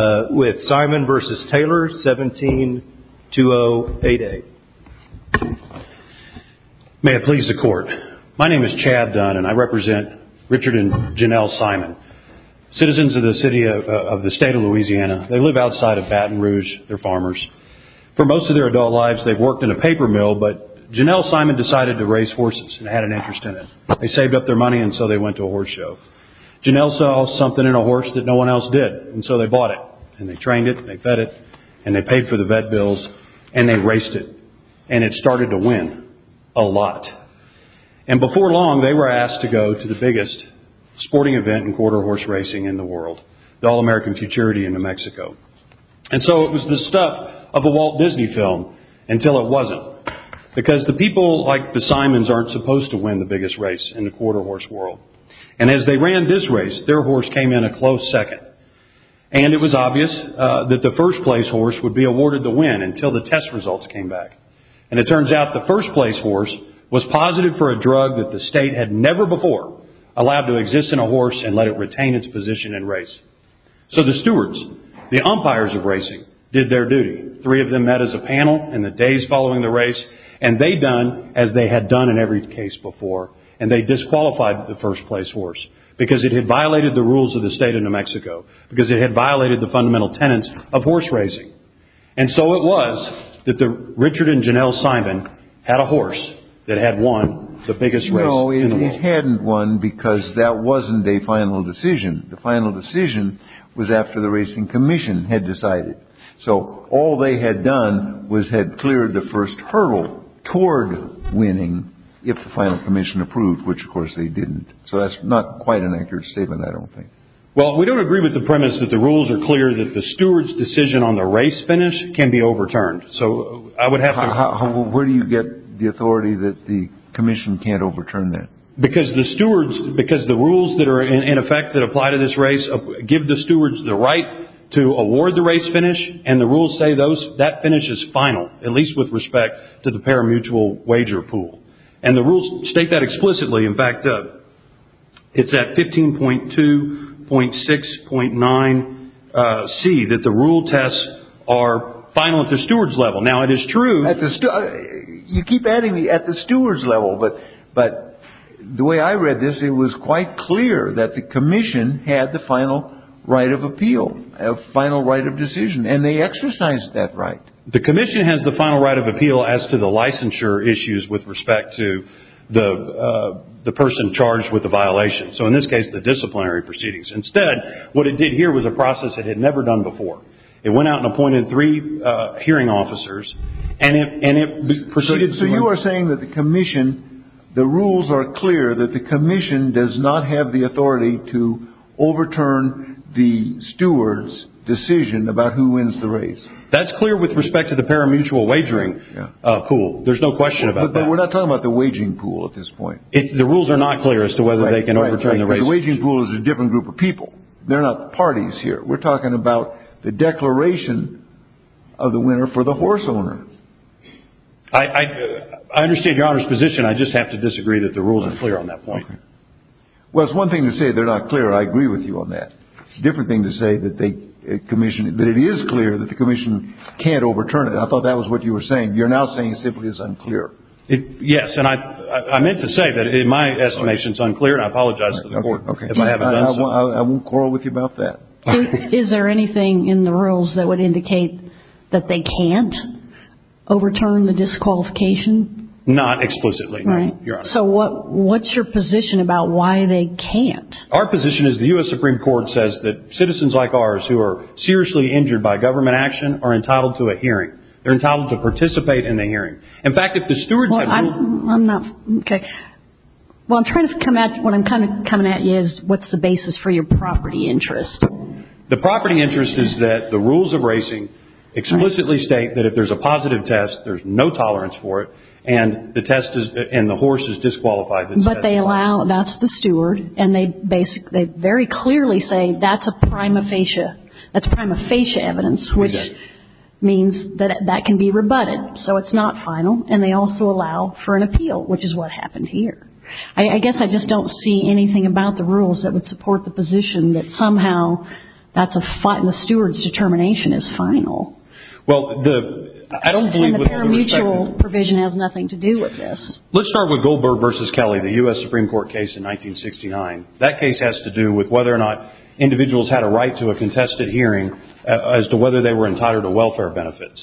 172088 May it please the court. My name is Chad Dunn and I represent Richard and Janelle Simon. Citizens of the state of Louisiana. They live outside of Baton Rouge. They're farmers. For most of their adult lives they've worked in a paper mill, but Janelle Simon decided to raise horses and had an interest in it. They saved up their money and so they went to a horse show. Janelle saw something in a horse that no one else did and so they bought it. And they trained it and they fed it and they paid for the vet bills and they raced it. And it started to win. A lot. And before long they were asked to go to the biggest sporting event in quarter horse racing in the world. The All-American Futurity in New Mexico. And so it was the stuff of a Walt Disney film until it wasn't. Because the people like the Simons aren't supposed to win the biggest race in the quarter horse world. And as they ran this race, their horse came in a close second. And it was obvious that the first place horse would be awarded the win until the test results came back. And it turns out the first place horse was positive for a drug that the state had never before allowed to exist in a horse and let it retain its position in race. So the stewards, the umpires of racing, did their duty. Three of them met as a panel in the days following the race. And they'd done as they had done in every case before. And they disqualified the first place horse because it had violated the rules of the state of New Mexico. Because it had violated the fundamental tenets of horse racing. And so it was that Richard and Janelle Simon had a horse that had won the biggest race in the world. No, it hadn't won because that wasn't a final decision. The final decision was after the Racing Commission had decided. So all they had done was had cleared the first hurdle toward winning if the final commission approved, which, of course, they didn't. So that's not quite an accurate statement, I don't think. Well, we don't agree with the premise that the rules are clear, that the stewards' decision on the race finish can be overturned. So I would have to – Where do you get the authority that the commission can't overturn that? Because the rules that are in effect that apply to this race give the stewards the right to award the race finish. And the rules say that finish is final, at least with respect to the parimutuel wager pool. And the rules state that explicitly. In fact, it's at 15.2, .6, .9c that the rule tests are final at the stewards' level. Now, it is true – You keep adding the at the stewards' level. But the way I read this, it was quite clear that the commission had the final right of appeal, a final right of decision. And they exercised that right. The commission has the final right of appeal as to the licensure issues with respect to the person charged with the violation. So in this case, the disciplinary proceedings. Instead, what it did here was a process it had never done before. It went out and appointed three hearing officers. So you are saying that the rules are clear that the commission does not have the authority to overturn the stewards' decision about who wins the race. That's clear with respect to the parimutuel wagering pool. There's no question about that. But we're not talking about the waging pool at this point. The rules are not clear as to whether they can overturn the race. The waging pool is a different group of people. They're not parties here. We're talking about the declaration of the winner for the horse owner. I understand Your Honor's position. I just have to disagree that the rules are clear on that point. Well, it's one thing to say they're not clear. I agree with you on that. It's a different thing to say that it is clear that the commission can't overturn it. And I thought that was what you were saying. You're now saying it simply is unclear. Yes. And I meant to say that in my estimation it's unclear. And I apologize to the court if I haven't done so. I won't quarrel with you about that. Is there anything in the rules that would indicate that they can't overturn the disqualification? Not explicitly, Your Honor. So what's your position about why they can't? Our position is the U.S. Supreme Court says that citizens like ours who are seriously injured by government action are entitled to a hearing. They're entitled to participate in a hearing. In fact, if the stewards have no— Okay. Well, I'm trying to come at—what I'm kind of coming at you is what's the basis for your property interest? The property interest is that the rules of racing explicitly state that if there's a positive test, there's no tolerance for it, and the test is—and the horse is disqualified. But they allow—that's the steward, and they very clearly say that's a prima facie. That's prima facie evidence, which means that that can be rebutted. So it's not final, and they also allow for an appeal, which is what happened here. I guess I just don't see anything about the rules that would support the position that somehow that's a—the steward's determination is final. Well, the—I don't believe— And the paramutual provision has nothing to do with this. Let's start with Goldberg v. Kelly, the U.S. Supreme Court case in 1969. That case has to do with whether or not individuals had a right to a contested hearing as to whether they were entitled to welfare benefits.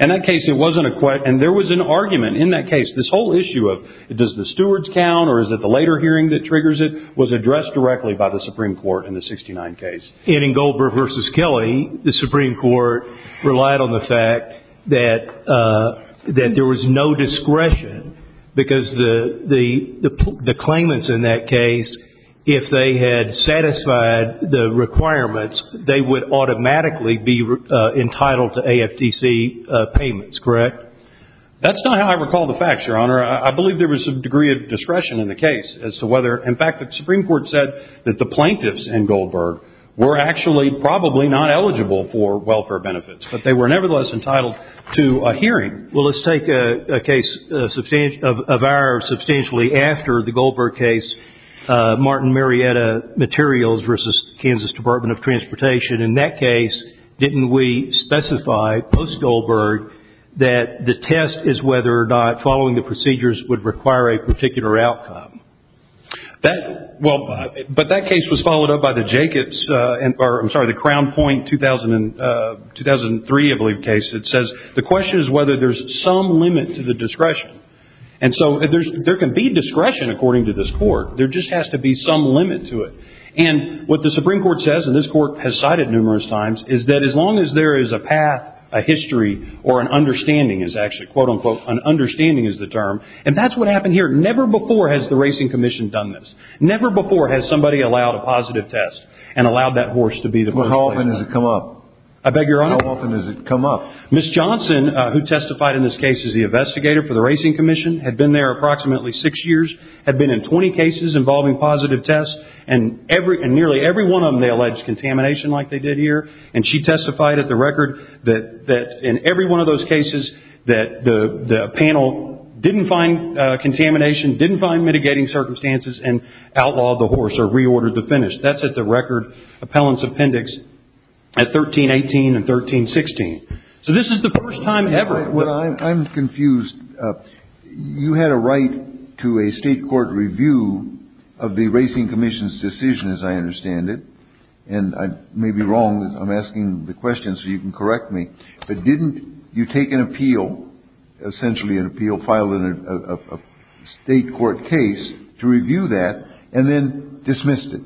In that case, it wasn't a—and there was an argument in that case. This whole issue of does the stewards count or is it the later hearing that triggers it was addressed directly by the Supreme Court in the 69 case. And in Goldberg v. Kelly, the Supreme Court relied on the fact that there was no discretion because the claimants in that case, if they had satisfied the requirements, they would automatically be entitled to AFTC payments, correct? That's not how I recall the facts, Your Honor. I believe there was a degree of discretion in the case as to whether— in fact, the Supreme Court said that the plaintiffs in Goldberg were actually probably not eligible for welfare benefits, but they were nevertheless entitled to a hearing. Well, let's take a case of ours substantially after the Goldberg case, Martin Marietta Materials v. Kansas Department of Transportation. In that case, didn't we specify post-Goldberg that the test is whether or not following the procedures would require a particular outcome? That—well, but that case was followed up by the Jacobs—I'm sorry, the Crown Point 2003, I believe, case that says the question is whether there's some limit to the discretion. And so there can be discretion, according to this Court. There just has to be some limit to it. And what the Supreme Court says, and this Court has cited numerous times, is that as long as there is a path, a history, or an understanding is actually, quote-unquote, an understanding is the term, and that's what happened here. Never before has the Racing Commission done this. Never before has somebody allowed a positive test and allowed that horse to be the first place. Well, how often does it come up? I beg your honor? How often does it come up? Ms. Johnson, who testified in this case as the investigator for the Racing Commission, had been there approximately six years, had been in 20 cases involving positive tests, and nearly every one of them they alleged contamination like they did here. And she testified at the record that in every one of those cases that the panel didn't find contamination, didn't find mitigating circumstances, and outlawed the horse or reordered the finish. That's at the record, appellant's appendix, at 1318 and 1316. So this is the first time ever. I'm confused. You had a right to a state court review of the Racing Commission's decision, as I understand it, and I may be wrong, I'm asking the question so you can correct me, but didn't you take an appeal, essentially an appeal filed in a state court case, to review that, and then dismissed it?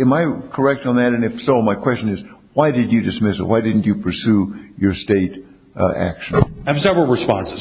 Am I correct on that? And if so, my question is, why did you dismiss it? Why didn't you pursue your state action? I have several responses.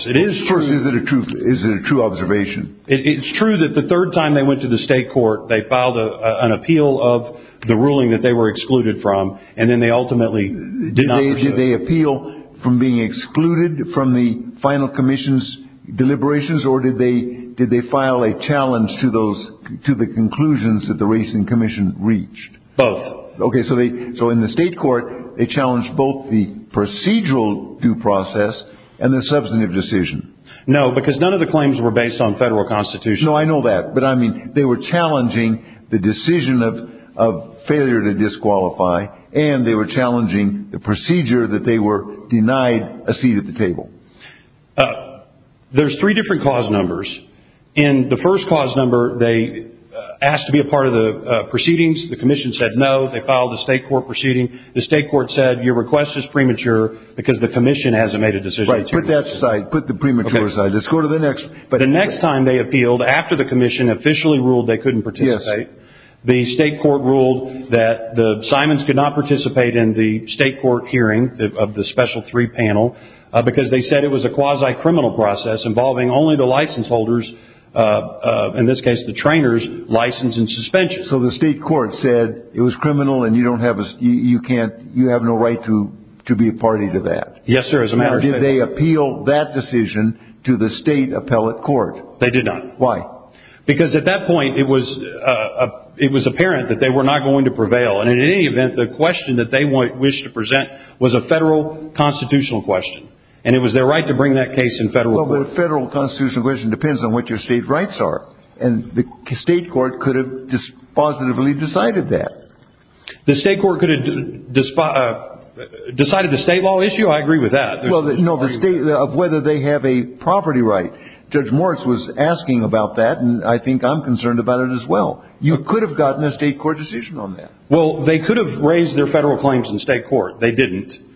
First, is it a true observation? It's true that the third time they went to the state court, they filed an appeal of the ruling that they were excluded from, and then they ultimately did not pursue it. Did they appeal from being excluded from the final commission's deliberations, or did they file a challenge to the conclusions that the Racing Commission reached? Both. Okay, so in the state court, they challenged both the procedural due process and the substantive decision. No, because none of the claims were based on federal constitution. No, I know that, but I mean, they were challenging the decision of failure to disqualify, and they were challenging the procedure that they were denied a seat at the table. There's three different cause numbers. In the first cause number, they asked to be a part of the proceedings. The commission said no. They filed a state court proceeding. The state court said, your request is premature because the commission hasn't made a decision. Put that aside. Put the premature aside. Let's go to the next. The next time they appealed, after the commission officially ruled they couldn't participate, the state court ruled that the Simons could not participate in the state court hearing of the special three panel because they said it was a quasi-criminal process involving only the license holders, in this case the trainers, license and suspension. So the state court said it was criminal and you have no right to be a party to that? Yes, sir, as a matter of fact. Did they appeal that decision to the state appellate court? They did not. Why? Because at that point, it was apparent that they were not going to prevail, and in any event, the question that they wished to present was a federal constitutional question, and it was their right to bring that case in federal court. Well, a federal constitutional question depends on what your state rights are, and the state court could have positively decided that. The state court could have decided the state law issue? I agree with that. No, the state of whether they have a property right. Judge Moritz was asking about that, and I think I'm concerned about it as well. You could have gotten a state court decision on that. Well, they could have raised their federal claims in state court. They didn't.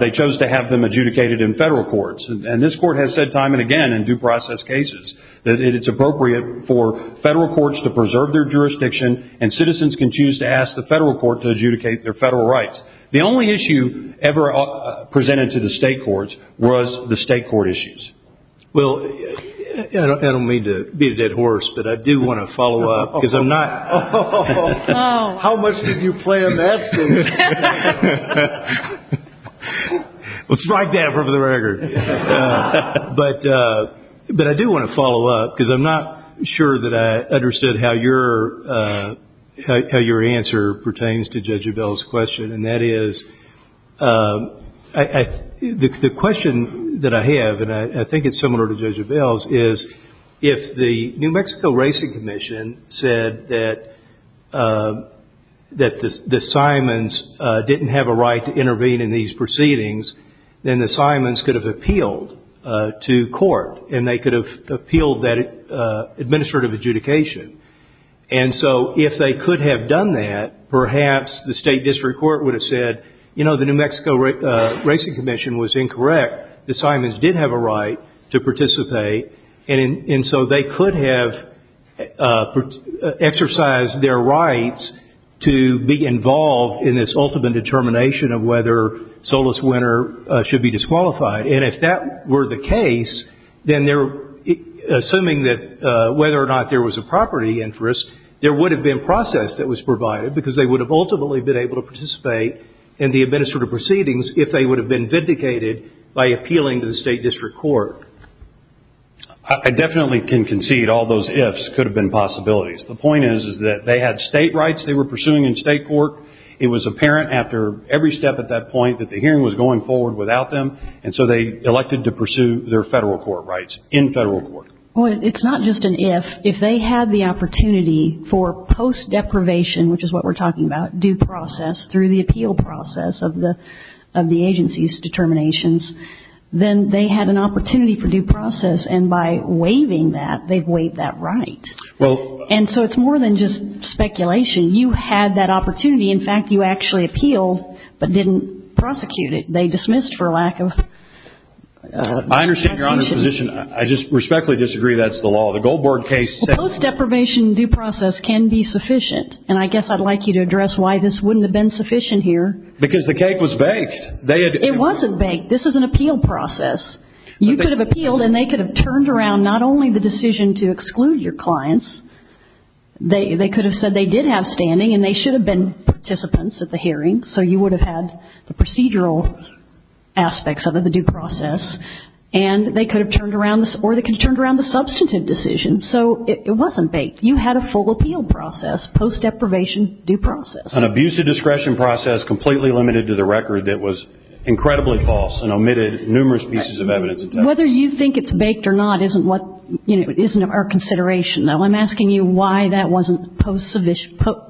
They chose to have them adjudicated in federal courts, and this court has said time and again in due process cases that it's appropriate for federal courts to preserve their jurisdiction and citizens can choose to ask the federal court to adjudicate their federal rights. The only issue ever presented to the state courts was the state court issues. Well, I don't mean to be a dead horse, but I do want to follow up because I'm not. How much did you plan that for me? Well, strike that for the record. But I do want to follow up because I'm not sure that I understood how your answer pertains to Judge Abell's question, and that is the question that I have, and I think it's similar to Judge Abell's, is if the New Mexico Racing Commission said that the Simons didn't have a right to intervene in these proceedings, then the Simons could have appealed to court, and they could have appealed that administrative adjudication. And so if they could have done that, perhaps the state district court would have said, you know, the New Mexico Racing Commission was incorrect, the Simons did have a right to participate, and so they could have exercised their rights to be involved in this ultimate determination of whether Solis winner should be disqualified. And if that were the case, then assuming that whether or not there was a property interest, there would have been process that was provided because they would have ultimately been able to participate in the administrative proceedings if they would have been vindicated by appealing to the state district court. I definitely can concede all those ifs could have been possibilities. The point is that they had state rights they were pursuing in state court. It was apparent after every step at that point that the hearing was going forward without them, and so they elected to pursue their federal court rights in federal court. Well, it's not just an if. If they had the opportunity for post-deprivation, which is what we're talking about, due process, through the appeal process of the agency's determinations, then they had an opportunity for due process, and by waiving that, they've waived that right. And so it's more than just speculation. You had that opportunity. In fact, you actually appealed but didn't prosecute it. They dismissed for lack of action. I understand you're on this position. I just respectfully disagree that's the law. The Goldberg case says- Well, post-deprivation due process can be sufficient, and I guess I'd like you to address why this wouldn't have been sufficient here. Because the cake was baked. It wasn't baked. This is an appeal process. You could have appealed, and they could have turned around not only the decision to exclude your clients. They could have said they did have standing, and they should have been participants at the hearing, so you would have had the procedural aspects of the due process, and they could have turned around the substantive decision, so it wasn't baked. You had a full appeal process, post-deprivation due process. An abuse of discretion process completely limited to the record that was incredibly false and omitted numerous pieces of evidence. Whether you think it's baked or not isn't our consideration, though. I'm asking you why that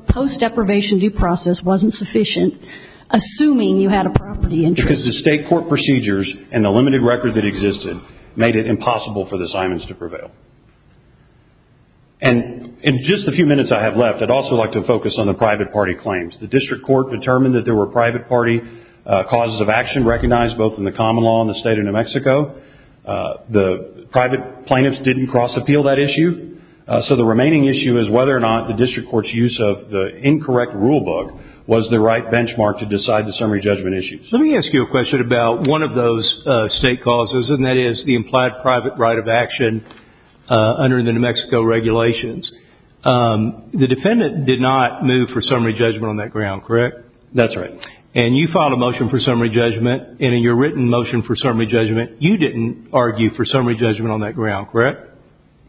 post-deprivation due process wasn't sufficient, assuming you had a property interest. Because the state court procedures and the limited record that existed made it impossible for the Simons to prevail. In just the few minutes I have left, I'd also like to focus on the private party claims. The district court determined that there were private party causes of action recognized both in the common law in the state of New Mexico. The private plaintiffs didn't cross-appeal that issue, so the remaining issue is whether or not the district court's use of the incorrect rulebook was the right benchmark to decide the summary judgment issue. Let me ask you a question about one of those state causes, and that is the implied private right of action under the New Mexico regulations. The defendant did not move for summary judgment on that ground, correct? That's right. And you filed a motion for summary judgment, and in your written motion for summary judgment, you didn't argue for summary judgment on that ground, correct?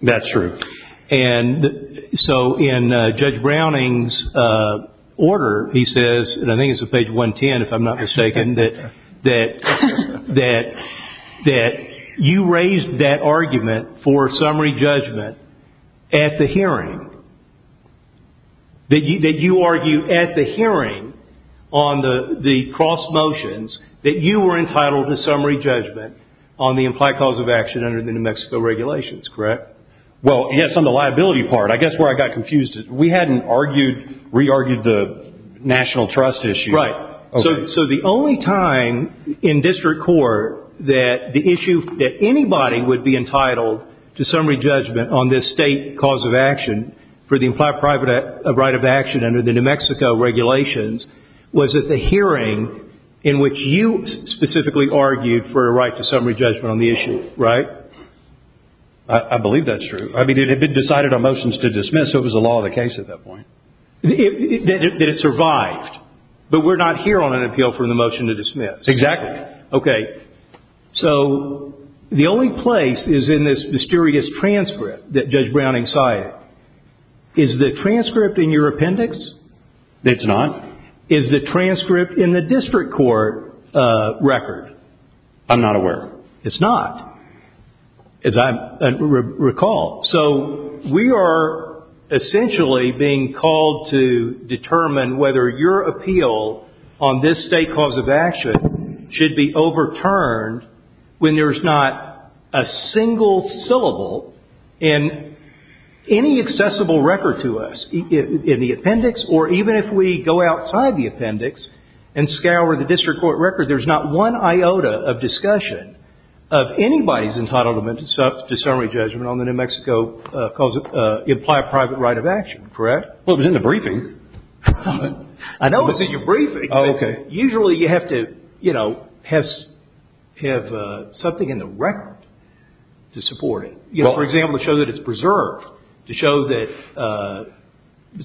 That's true. And so in Judge Browning's order, he says, and I think it's on page 110 if I'm not mistaken, that you raised that argument for summary judgment at the hearing. That you argue at the hearing on the cross motions that you were entitled to summary judgment on the implied cause of action under the New Mexico regulations, correct? Well, yes, on the liability part. I guess where I got confused is we hadn't argued, re-argued the national trust issue. Right. So the only time in district court that the issue that anybody would be entitled to summary judgment on this state cause of action for the implied private right of action under the New Mexico regulations was at the hearing in which you specifically argued for a right to summary judgment on the issue, right? I believe that's true. I mean, it had been decided on motions to dismiss, so it was the law of the case at that point. That it survived. But we're not here on an appeal for the motion to dismiss. Exactly. Correct. Okay. So the only place is in this mysterious transcript that Judge Browning cited. Is the transcript in your appendix? It's not. Is the transcript in the district court record? I'm not aware. It's not, as I recall. So we are essentially being called to determine whether your appeal on this state cause of action should be overturned when there's not a single syllable in any accessible record to us in the appendix, or even if we go outside the appendix and scour the district court record, there's not one iota of discussion of anybody's entitlement to summary judgment on the New Mexico cause of implied private right of action, correct? Well, it was in the briefing. I know it was in your briefing. Okay. Usually you have to, you know, have something in the record to support it. You know, for example, show that it's preserved to show that.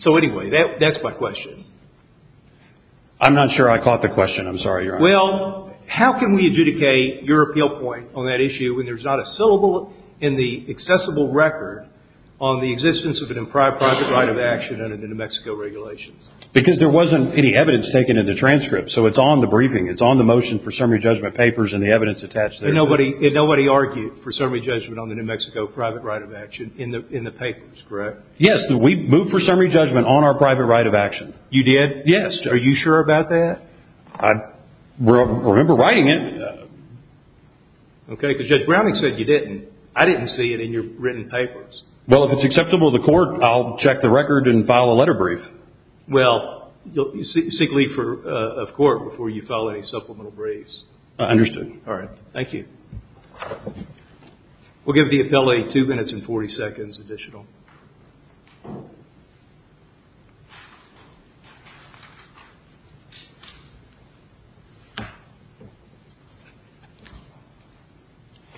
So anyway, that's my question. I'm not sure I caught the question. I'm sorry, Your Honor. Well, how can we adjudicate your appeal point on that issue when there's not a syllable in the accessible record on the existence of an implied private right of action under the New Mexico regulations? Because there wasn't any evidence taken in the transcript, so it's on the briefing. It's on the motion for summary judgment papers and the evidence attached there. But nobody argued for summary judgment on the New Mexico private right of action in the papers, correct? Yes. We moved for summary judgment on our private right of action. You did? Yes. Are you sure about that? I remember writing it. Okay, because Judge Browning said you didn't. I didn't see it in your written papers. Well, if it's acceptable to the court, I'll check the record and file a letter brief. Well, seek leave of court before you file any supplemental briefs. Understood. All right. Thank you. We'll give the appellee two minutes and 40 seconds additional.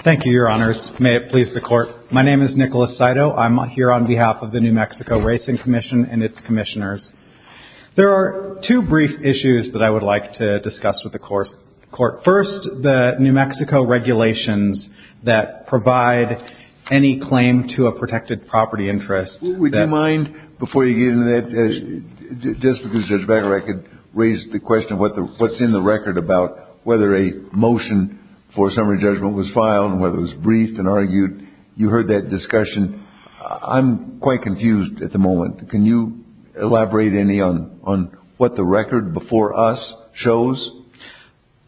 Thank you, Your Honors. May it please the court. My name is Nicholas Saito. I'm here on behalf of the New Mexico Racing Commission and its commissioners. There are two brief issues that I would like to discuss with the court. First, the New Mexico regulations that provide any claim to a protected property interest. Would you mind, before you get into that, just because, Judge Becker, I could raise the question of what's in the record about whether a motion for summary judgment was filed and whether it was briefed and argued. You heard that discussion. I'm quite confused at the moment. Can you elaborate any on what the record before us shows?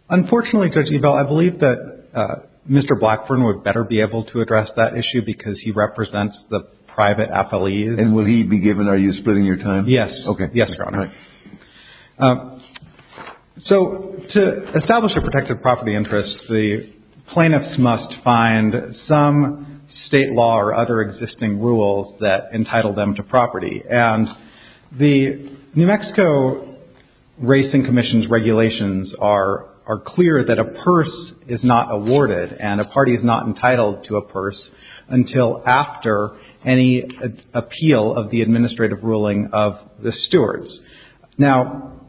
Unfortunately, Judge Ebel, I believe that Mr. Blackburn would better be able to address that issue because he represents the private appellees. And will he be given? Are you splitting your time? Yes. Okay. Yes, Your Honor. All right. So to establish a protected property interest, the plaintiffs must find some state law or other existing rules that entitle them to property. And the New Mexico Racing Commission's regulations are clear that a purse is not awarded and a party is not entitled to a purse until after any appeal of the administrative ruling of the stewards. Now,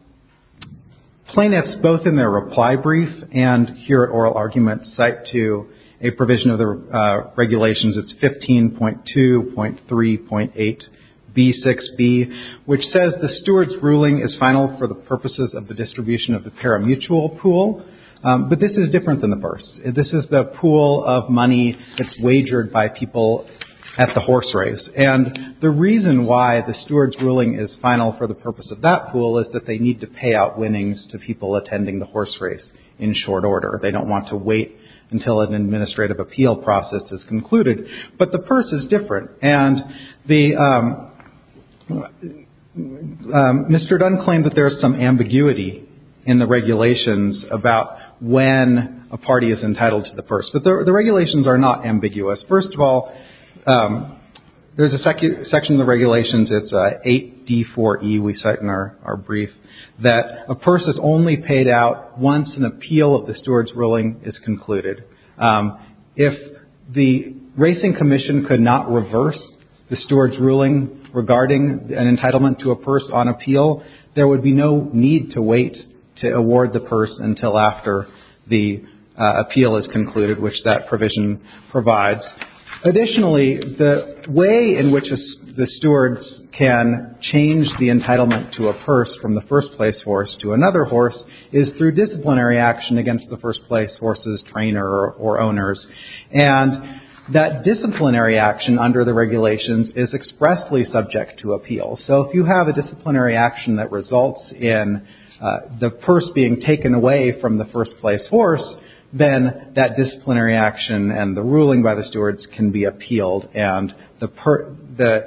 plaintiffs, both in their reply brief and here at oral argument, cite to a provision of the regulations. It's 15.2.3.8B6B, which says the stewards' ruling is final for the purposes of the distribution of the parimutuel pool. But this is different than the purse. This is the pool of money that's wagered by people at the horse race. And the reason why the stewards' ruling is final for the purpose of that pool is that they need to pay out winnings to people attending the horse race in short order. They don't want to wait until an administrative appeal process is concluded. But the purse is different. And the Mr. Dunn claimed that there's some ambiguity in the regulations about when a party is entitled to the purse. But the regulations are not ambiguous. First of all, there's a section of the regulations. It's 8D4E we cite in our brief, that a purse is only paid out once an appeal of the stewards' ruling is concluded. If the Racing Commission could not reverse the stewards' ruling regarding an entitlement to a purse on appeal, there would be no need to wait to award the purse until after the appeal is concluded, which that provision provides. Additionally, the way in which the stewards can change the entitlement to a purse from the first place horse to another horse is through disciplinary action against the first place horse's trainer or owners. And that disciplinary action under the regulations is expressly subject to appeal. So if you have a disciplinary action that results in the purse being taken away from the first place horse, then that disciplinary action and the ruling by the stewards can be appealed. And the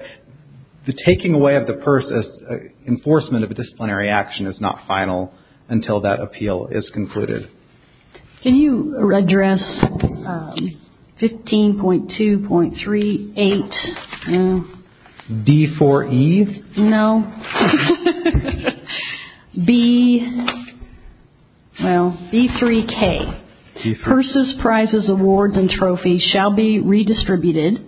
taking away of the purse as enforcement of a disciplinary action is not final until that appeal is concluded. Can you address 15.2.38? D4E? No. B3K. Purses, prizes, awards and trophies shall be redistributed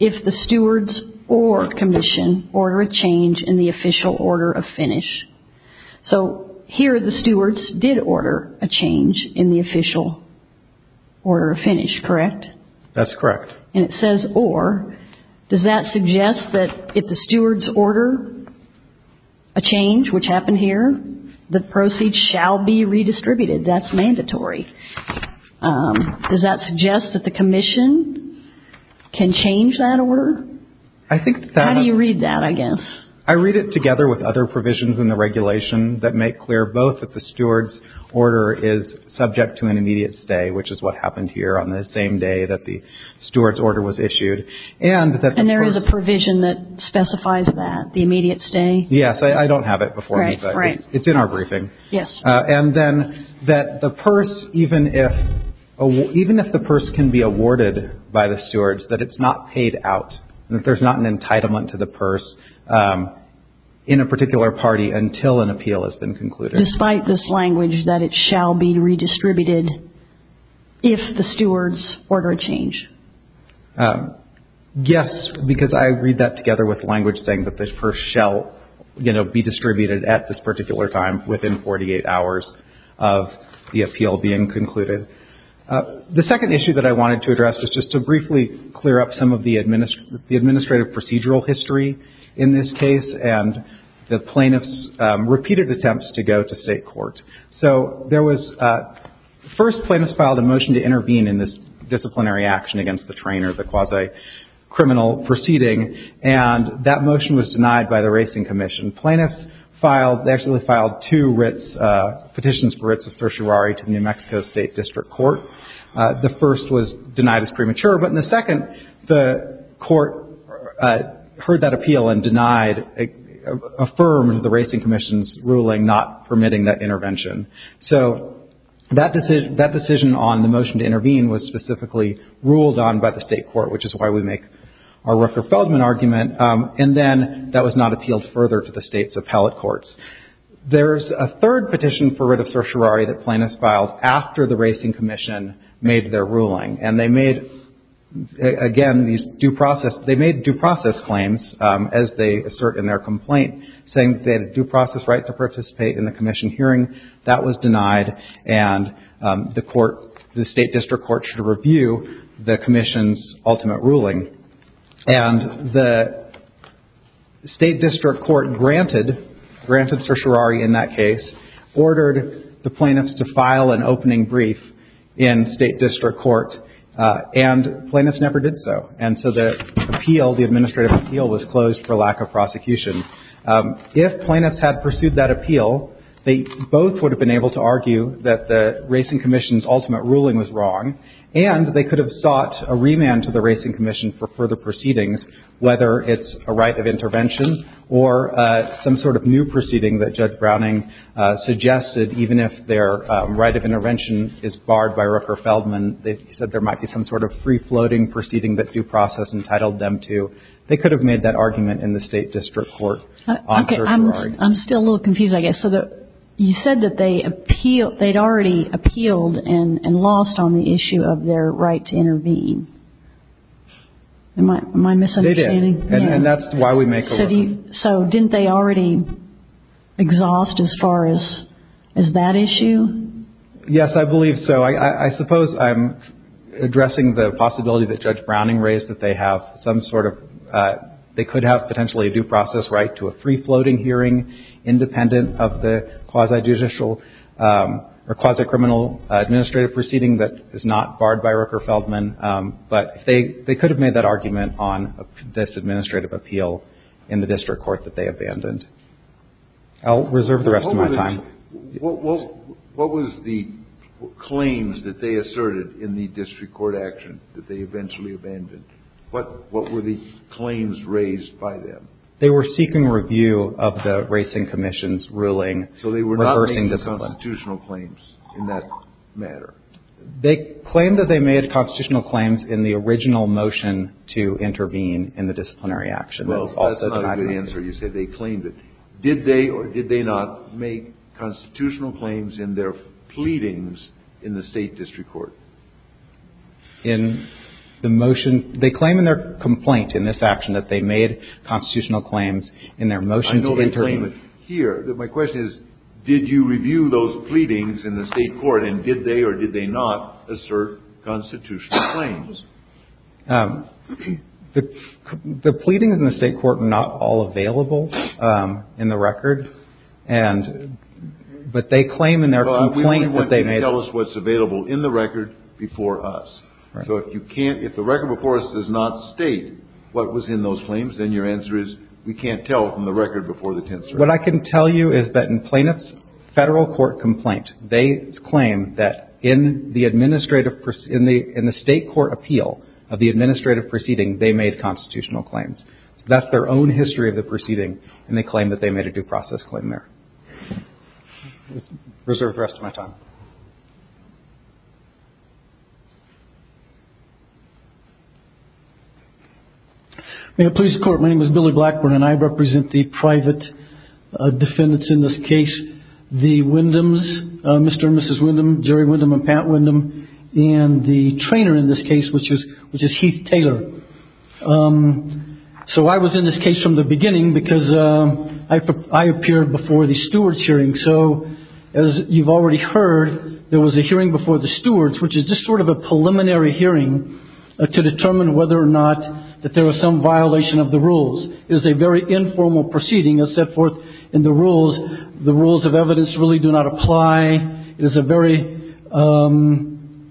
if the stewards or commission order a change in the official order of finish. So here the stewards did order a change in the official order of finish, correct? That's correct. And it says or. Does that suggest that if the stewards order a change, which happened here, the proceeds shall be redistributed? That's mandatory. Does that suggest that the commission can change that order? I think that one. How do you read that, I guess? I read it together with other provisions in the regulation that make clear both that the stewards' order is subject to an immediate stay, which is what happened here on the same day that the stewards' order was issued, and that the purse. And there is a provision that specifies that, the immediate stay? Yes. I don't have it before me, but it's in our briefing. Yes. And then that the purse, even if the purse can be awarded by the stewards, that it's not paid out, that there's not an entitlement to the purse in a particular party until an appeal has been concluded. Despite this language that it shall be redistributed if the stewards order a change? Yes, because I read that together with language saying that the purse shall, you know, be distributed at this particular time within 48 hours of the appeal being concluded. The second issue that I wanted to address was just to briefly clear up some of the administrative procedural history in this case and the plaintiff's repeated attempts to go to state court. So there was first plaintiff's filed a motion to intervene in this disciplinary action against the trainer, the quasi-criminal proceeding, and that motion was denied by the Racing Commission. Plaintiffs filed, actually filed two writs, petitions for writs of certiorari to the New Mexico State District Court. The first was denied as premature. But in the second, the court heard that appeal and denied, affirmed the Racing Commission's ruling not permitting that intervention. So that decision on the motion to intervene was specifically ruled on by the state court, which is why we make our Rooker-Feldman argument. And then that was not appealed further to the state's appellate courts. There's a third petition for writ of certiorari that plaintiffs filed after the Racing Commission made their ruling. And they made, again, these due process – they made due process claims, as they assert in their complaint, saying that they had a due process right to participate in the commission hearing. That was denied, and the court – the state district court should review the commission's ultimate ruling. And the state district court granted – granted certiorari in that case, ordered the plaintiffs to file an opening brief in state district court, and plaintiffs never did so. And so the appeal, the administrative appeal, was closed for lack of prosecution. If plaintiffs had pursued that appeal, they both would have been able to argue that the Racing Commission's ultimate ruling was wrong, and they could have sought a remand to the Racing Commission for further proceedings, whether it's a right of intervention or some sort of new proceeding that Judge Browning suggested, even if their right of intervention is barred by Rooker-Feldman. They said there might be some sort of free-floating proceeding that due process entitled them to. They could have made that argument in the state district court on certiorari. I'm still a little confused, I guess. So you said that they'd already appealed and lost on the issue of their right to intervene. Am I misunderstanding? They did, and that's why we make a – So didn't they already exhaust as far as that issue? Yes, I believe so. I suppose I'm addressing the possibility that Judge Browning raised that they have some sort of – that they have some sort of free-floating proceeding independent of the quasi-judicial or quasi-criminal administrative proceeding that is not barred by Rooker-Feldman. But they could have made that argument on this administrative appeal in the district court that they abandoned. I'll reserve the rest of my time. What was the claims that they asserted in the district court action that they eventually abandoned? What were the claims raised by them? They were seeking review of the Racing Commission's ruling reversing discipline. So they were not making constitutional claims in that matter? They claimed that they made constitutional claims in the original motion to intervene in the disciplinary action. Well, that's not a good answer. You said they claimed it. Did they or did they not make constitutional claims in their pleadings in the state district court? In the motion – they claim in their complaint in this action that they made constitutional claims in their motion to intervene. I know they claim it here. My question is, did you review those pleadings in the state court, and did they or did they not assert constitutional claims? The pleadings in the state court are not all available in the record. And – but they claim in their complaint that they made – So if you can't – if the record before us does not state what was in those claims, then your answer is we can't tell from the record before the 10th Circuit. What I can tell you is that in Plaintiff's federal court complaint, they claim that in the administrative – in the state court appeal of the administrative proceeding, they made constitutional claims. So that's their own history of the proceeding, and they claim that they made a due process claim there. Reserve the rest of my time. May it please the Court, my name is Billy Blackburn, and I represent the private defendants in this case, the Windhams, Mr. and Mrs. Windham, Jerry Windham and Pat Windham, and the trainer in this case, which is Heath Taylor. So I was in this case from the beginning because I appeared before the stewards hearing. So as you've already heard, there was a hearing before the stewards, which is just sort of a preliminary hearing to determine whether or not that there was some violation of the rules. It was a very informal proceeding. It was set forth in the rules. The rules of evidence really do not apply. It is a very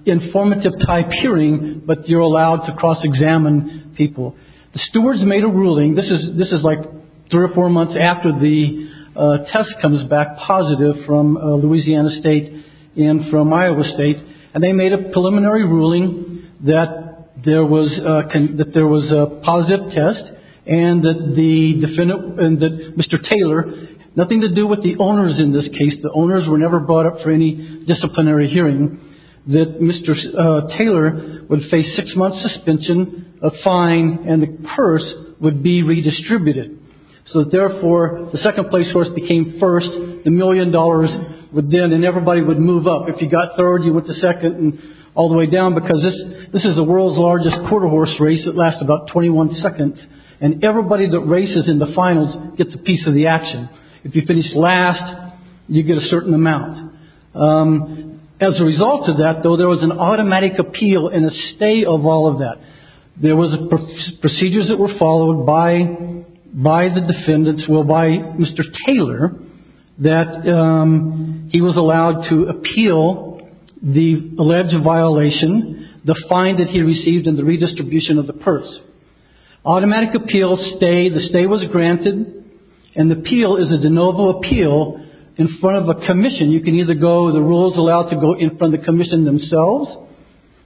informative type hearing, but you're allowed to cross-examine people. The stewards made a ruling. This is like three or four months after the test comes back positive from Louisiana State and from Iowa State, and they made a preliminary ruling that there was a positive test and that Mr. Taylor – nothing to do with the owners in this case. The owners were never brought up for any disciplinary hearing. That Mr. Taylor would face six months suspension, a fine, and the purse would be redistributed. So therefore, the second place horse became first. The million dollars would then – and everybody would move up. If you got third, you went to second and all the way down because this is the world's largest quarter horse race. It lasts about 21 seconds, and everybody that races in the finals gets a piece of the action. If you finish last, you get a certain amount. As a result of that, though, there was an automatic appeal and a stay of all of that. There was procedures that were followed by the defendants, well, by Mr. Taylor, that he was allowed to appeal the alleged violation, the fine that he received, and the redistribution of the purse. Automatic appeal, stay – the stay was granted, and the appeal is a de novo appeal in front of a commission. You can either go – the rule is allowed to go in front of the commission themselves,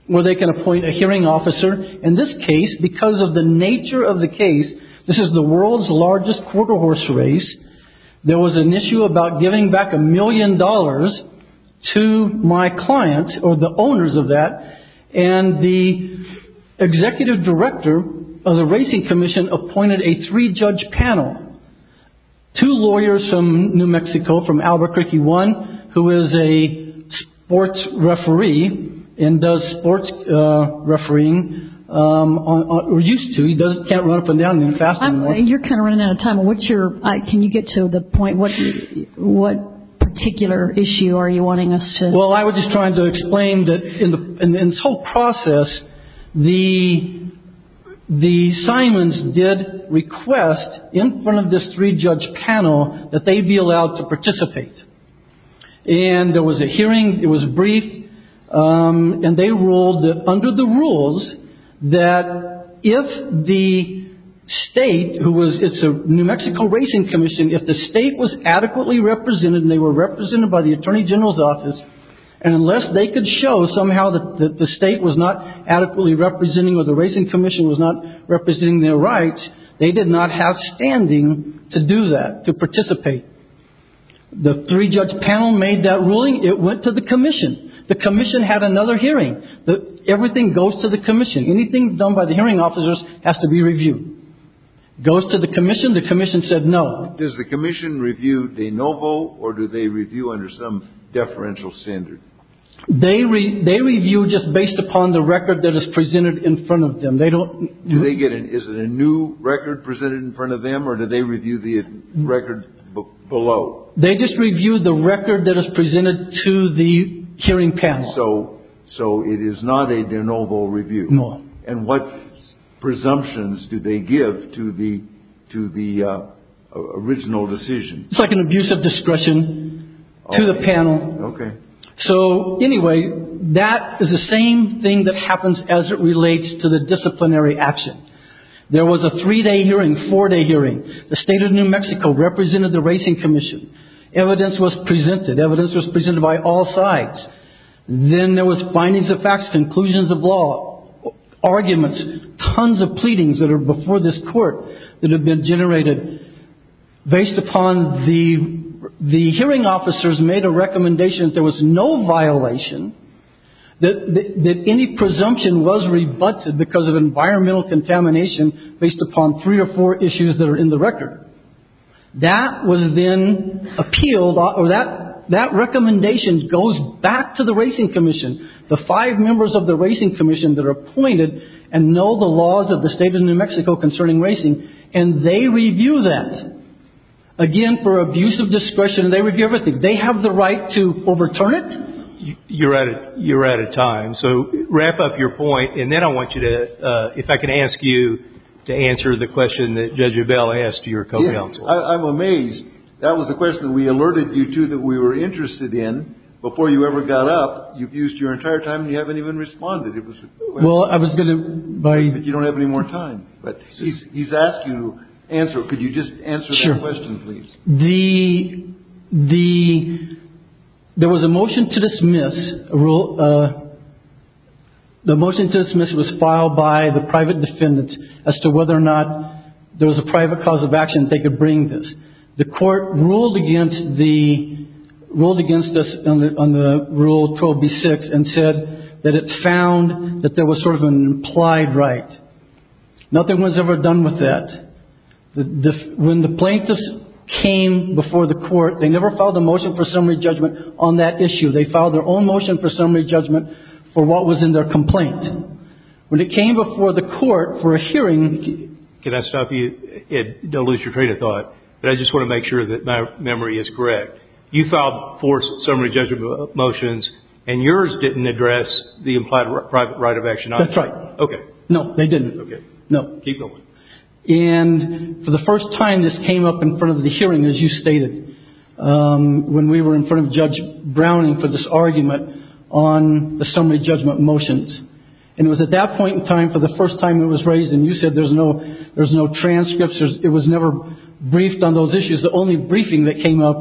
or they can appoint a hearing officer. In this case, because of the nature of the case – this is the world's largest quarter horse race – there was an issue about giving back a million dollars to my clients, or the owners of that, and the executive director of the racing commission appointed a three-judge panel. Two lawyers from New Mexico, from Albuquerque One, who is a sports referee and does sports refereeing, or used to – he can't run up and down fast anymore. You're kind of running out of time. What's your – can you get to the point? What particular issue are you wanting us to – Well, I was just trying to explain that in this whole process, the Simons did request in front of this three-judge panel that they be allowed to participate. And there was a hearing, it was briefed, and they ruled that under the rules, that if the state, who was – it's a New Mexico racing commission – if the state was adequately represented, and they were represented by the attorney general's office, and unless they could show somehow that the state was not adequately representing or the racing commission was not representing their rights, they did not have standing to do that, to participate. The three-judge panel made that ruling. It went to the commission. The commission had another hearing. Everything goes to the commission. Anything done by the hearing officers has to be reviewed. Goes to the commission. The commission said no. Does the commission review de novo, or do they review under some deferential standard? They review just based upon the record that is presented in front of them. They don't – Do they get – is it a new record presented in front of them, or do they review the record below? They just review the record that is presented to the hearing panel. So it is not a de novo review. No. And what presumptions do they give to the original decision? It's like an abuse of discretion to the panel. Okay. So anyway, that is the same thing that happens as it relates to the disciplinary action. There was a three-day hearing, four-day hearing. The state of New Mexico represented the racing commission. Evidence was presented. Evidence was presented by all sides. Then there was findings of facts, conclusions of law, arguments, tons of pleadings that are before this court that have been generated based upon the – the hearing officers made a recommendation that there was no violation, that any presumption was rebutted because of environmental contamination based upon three or four issues that are in the record. That was then appealed – or that recommendation goes back to the racing commission, the five members of the racing commission that are appointed and know the laws of the state of New Mexico concerning racing, and they review that, again, for abuse of discretion. They review everything. They have the right to overturn it. You're out of time. So wrap up your point, and then I want you to – I'm amazed. That was the question that we alerted you to that we were interested in. Before you ever got up, you've used your entire time, and you haven't even responded. Well, I was going to – You don't have any more time, but he's asked you to answer. Could you just answer that question, please? Sure. The – there was a motion to dismiss. The motion to dismiss was filed by the private defendants as to whether or not there was a private cause of action that they could bring this. The court ruled against the – ruled against this on the Rule 12b-6 and said that it found that there was sort of an implied right. Nothing was ever done with that. When the plaintiffs came before the court, they never filed a motion for summary judgment on that issue. They filed their own motion for summary judgment for what was in their complaint. When it came before the court for a hearing – Can I stop you? Don't lose your train of thought, but I just want to make sure that my memory is correct. You filed four summary judgment motions, and yours didn't address the implied private right of action on that. That's right. Okay. No, they didn't. Okay. No. Keep going. And for the first time, this came up in front of the hearing, as you stated, when we were in front of Judge Browning for this argument on the summary judgment motions. And it was at that point in time, for the first time it was raised, and you said there's no transcripts, it was never briefed on those issues. The only briefing that came up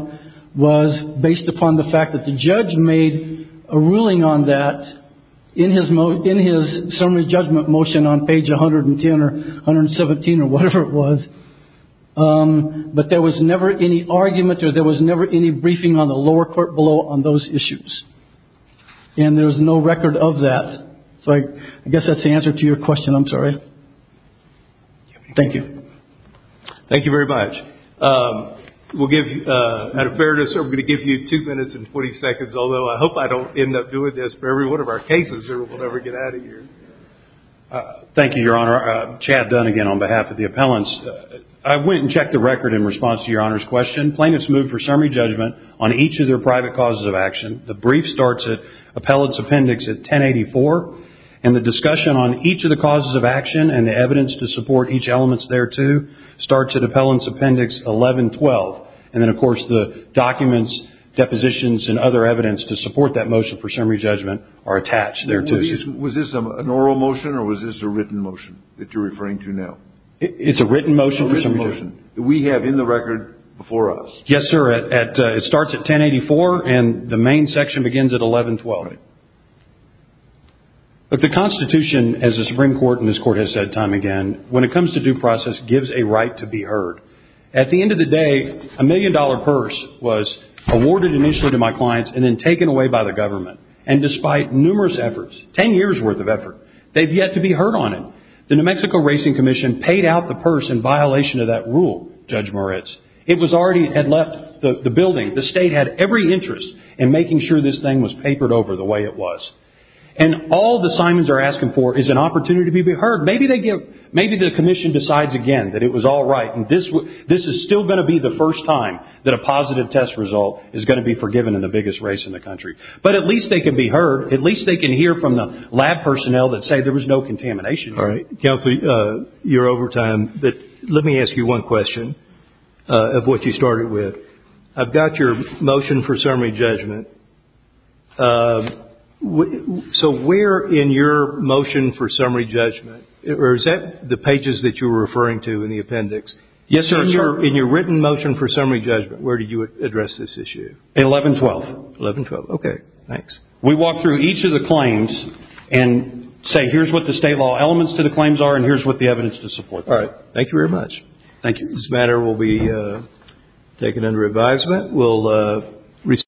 was based upon the fact that the judge made a ruling on that in his summary judgment motion on page 110 or 117 or whatever it was, but there was never any argument or there was never any briefing on the lower court below on those issues. And there's no record of that. So I guess that's the answer to your question. I'm sorry. Thank you. Thank you very much. We'll give you – out of fairness, we're going to give you two minutes and 40 seconds, although I hope I don't end up doing this for every one of our cases or we'll never get out of here. Thank you, Your Honor. I'm Chad Dunn again on behalf of the appellants. I went and checked the record in response to Your Honor's question. Plaintiffs moved for summary judgment on each of their private causes of action. The brief starts at appellant's appendix at 1084, and the discussion on each of the causes of action and the evidence to support each element thereto starts at appellant's appendix 1112. And then, of course, the documents, depositions, and other evidence to support that motion for summary judgment are attached thereto. Was this an oral motion or was this a written motion that you're referring to now? It's a written motion for summary judgment. A written motion that we have in the record before us. Yes, sir. It starts at 1084, and the main section begins at 1112. Right. Look, the Constitution, as the Supreme Court and this Court have said time and again, when it comes to due process, gives a right to be heard. At the end of the day, a million-dollar purse was awarded initially to my clients and then taken away by the government. And despite numerous efforts, 10 years' worth of effort, they've yet to be heard on it. The New Mexico Racing Commission paid out the purse in violation of that rule, Judge Moritz. It had already left the building. The state had every interest in making sure this thing was papered over the way it was. And all the Simons are asking for is an opportunity to be heard. Maybe the commission decides again that it was all right and this is still going to be the first time that a positive test result is going to be forgiven in the biggest race in the country. But at least they can be heard. At least they can hear from the lab personnel that say there was no contamination. All right. Counselor, you're over time, but let me ask you one question of what you started with. I've got your motion for summary judgment. So where in your motion for summary judgment, or is that the pages that you were referring to in the appendix? Yes, sir. In your written motion for summary judgment, where did you address this issue? 1112. 1112. Okay. Thanks. We walk through each of the claims and say here's what the state law elements to the claims are and here's what the evidence to support them is. All right. Thank you very much. Thank you. This matter will be taken under advisement.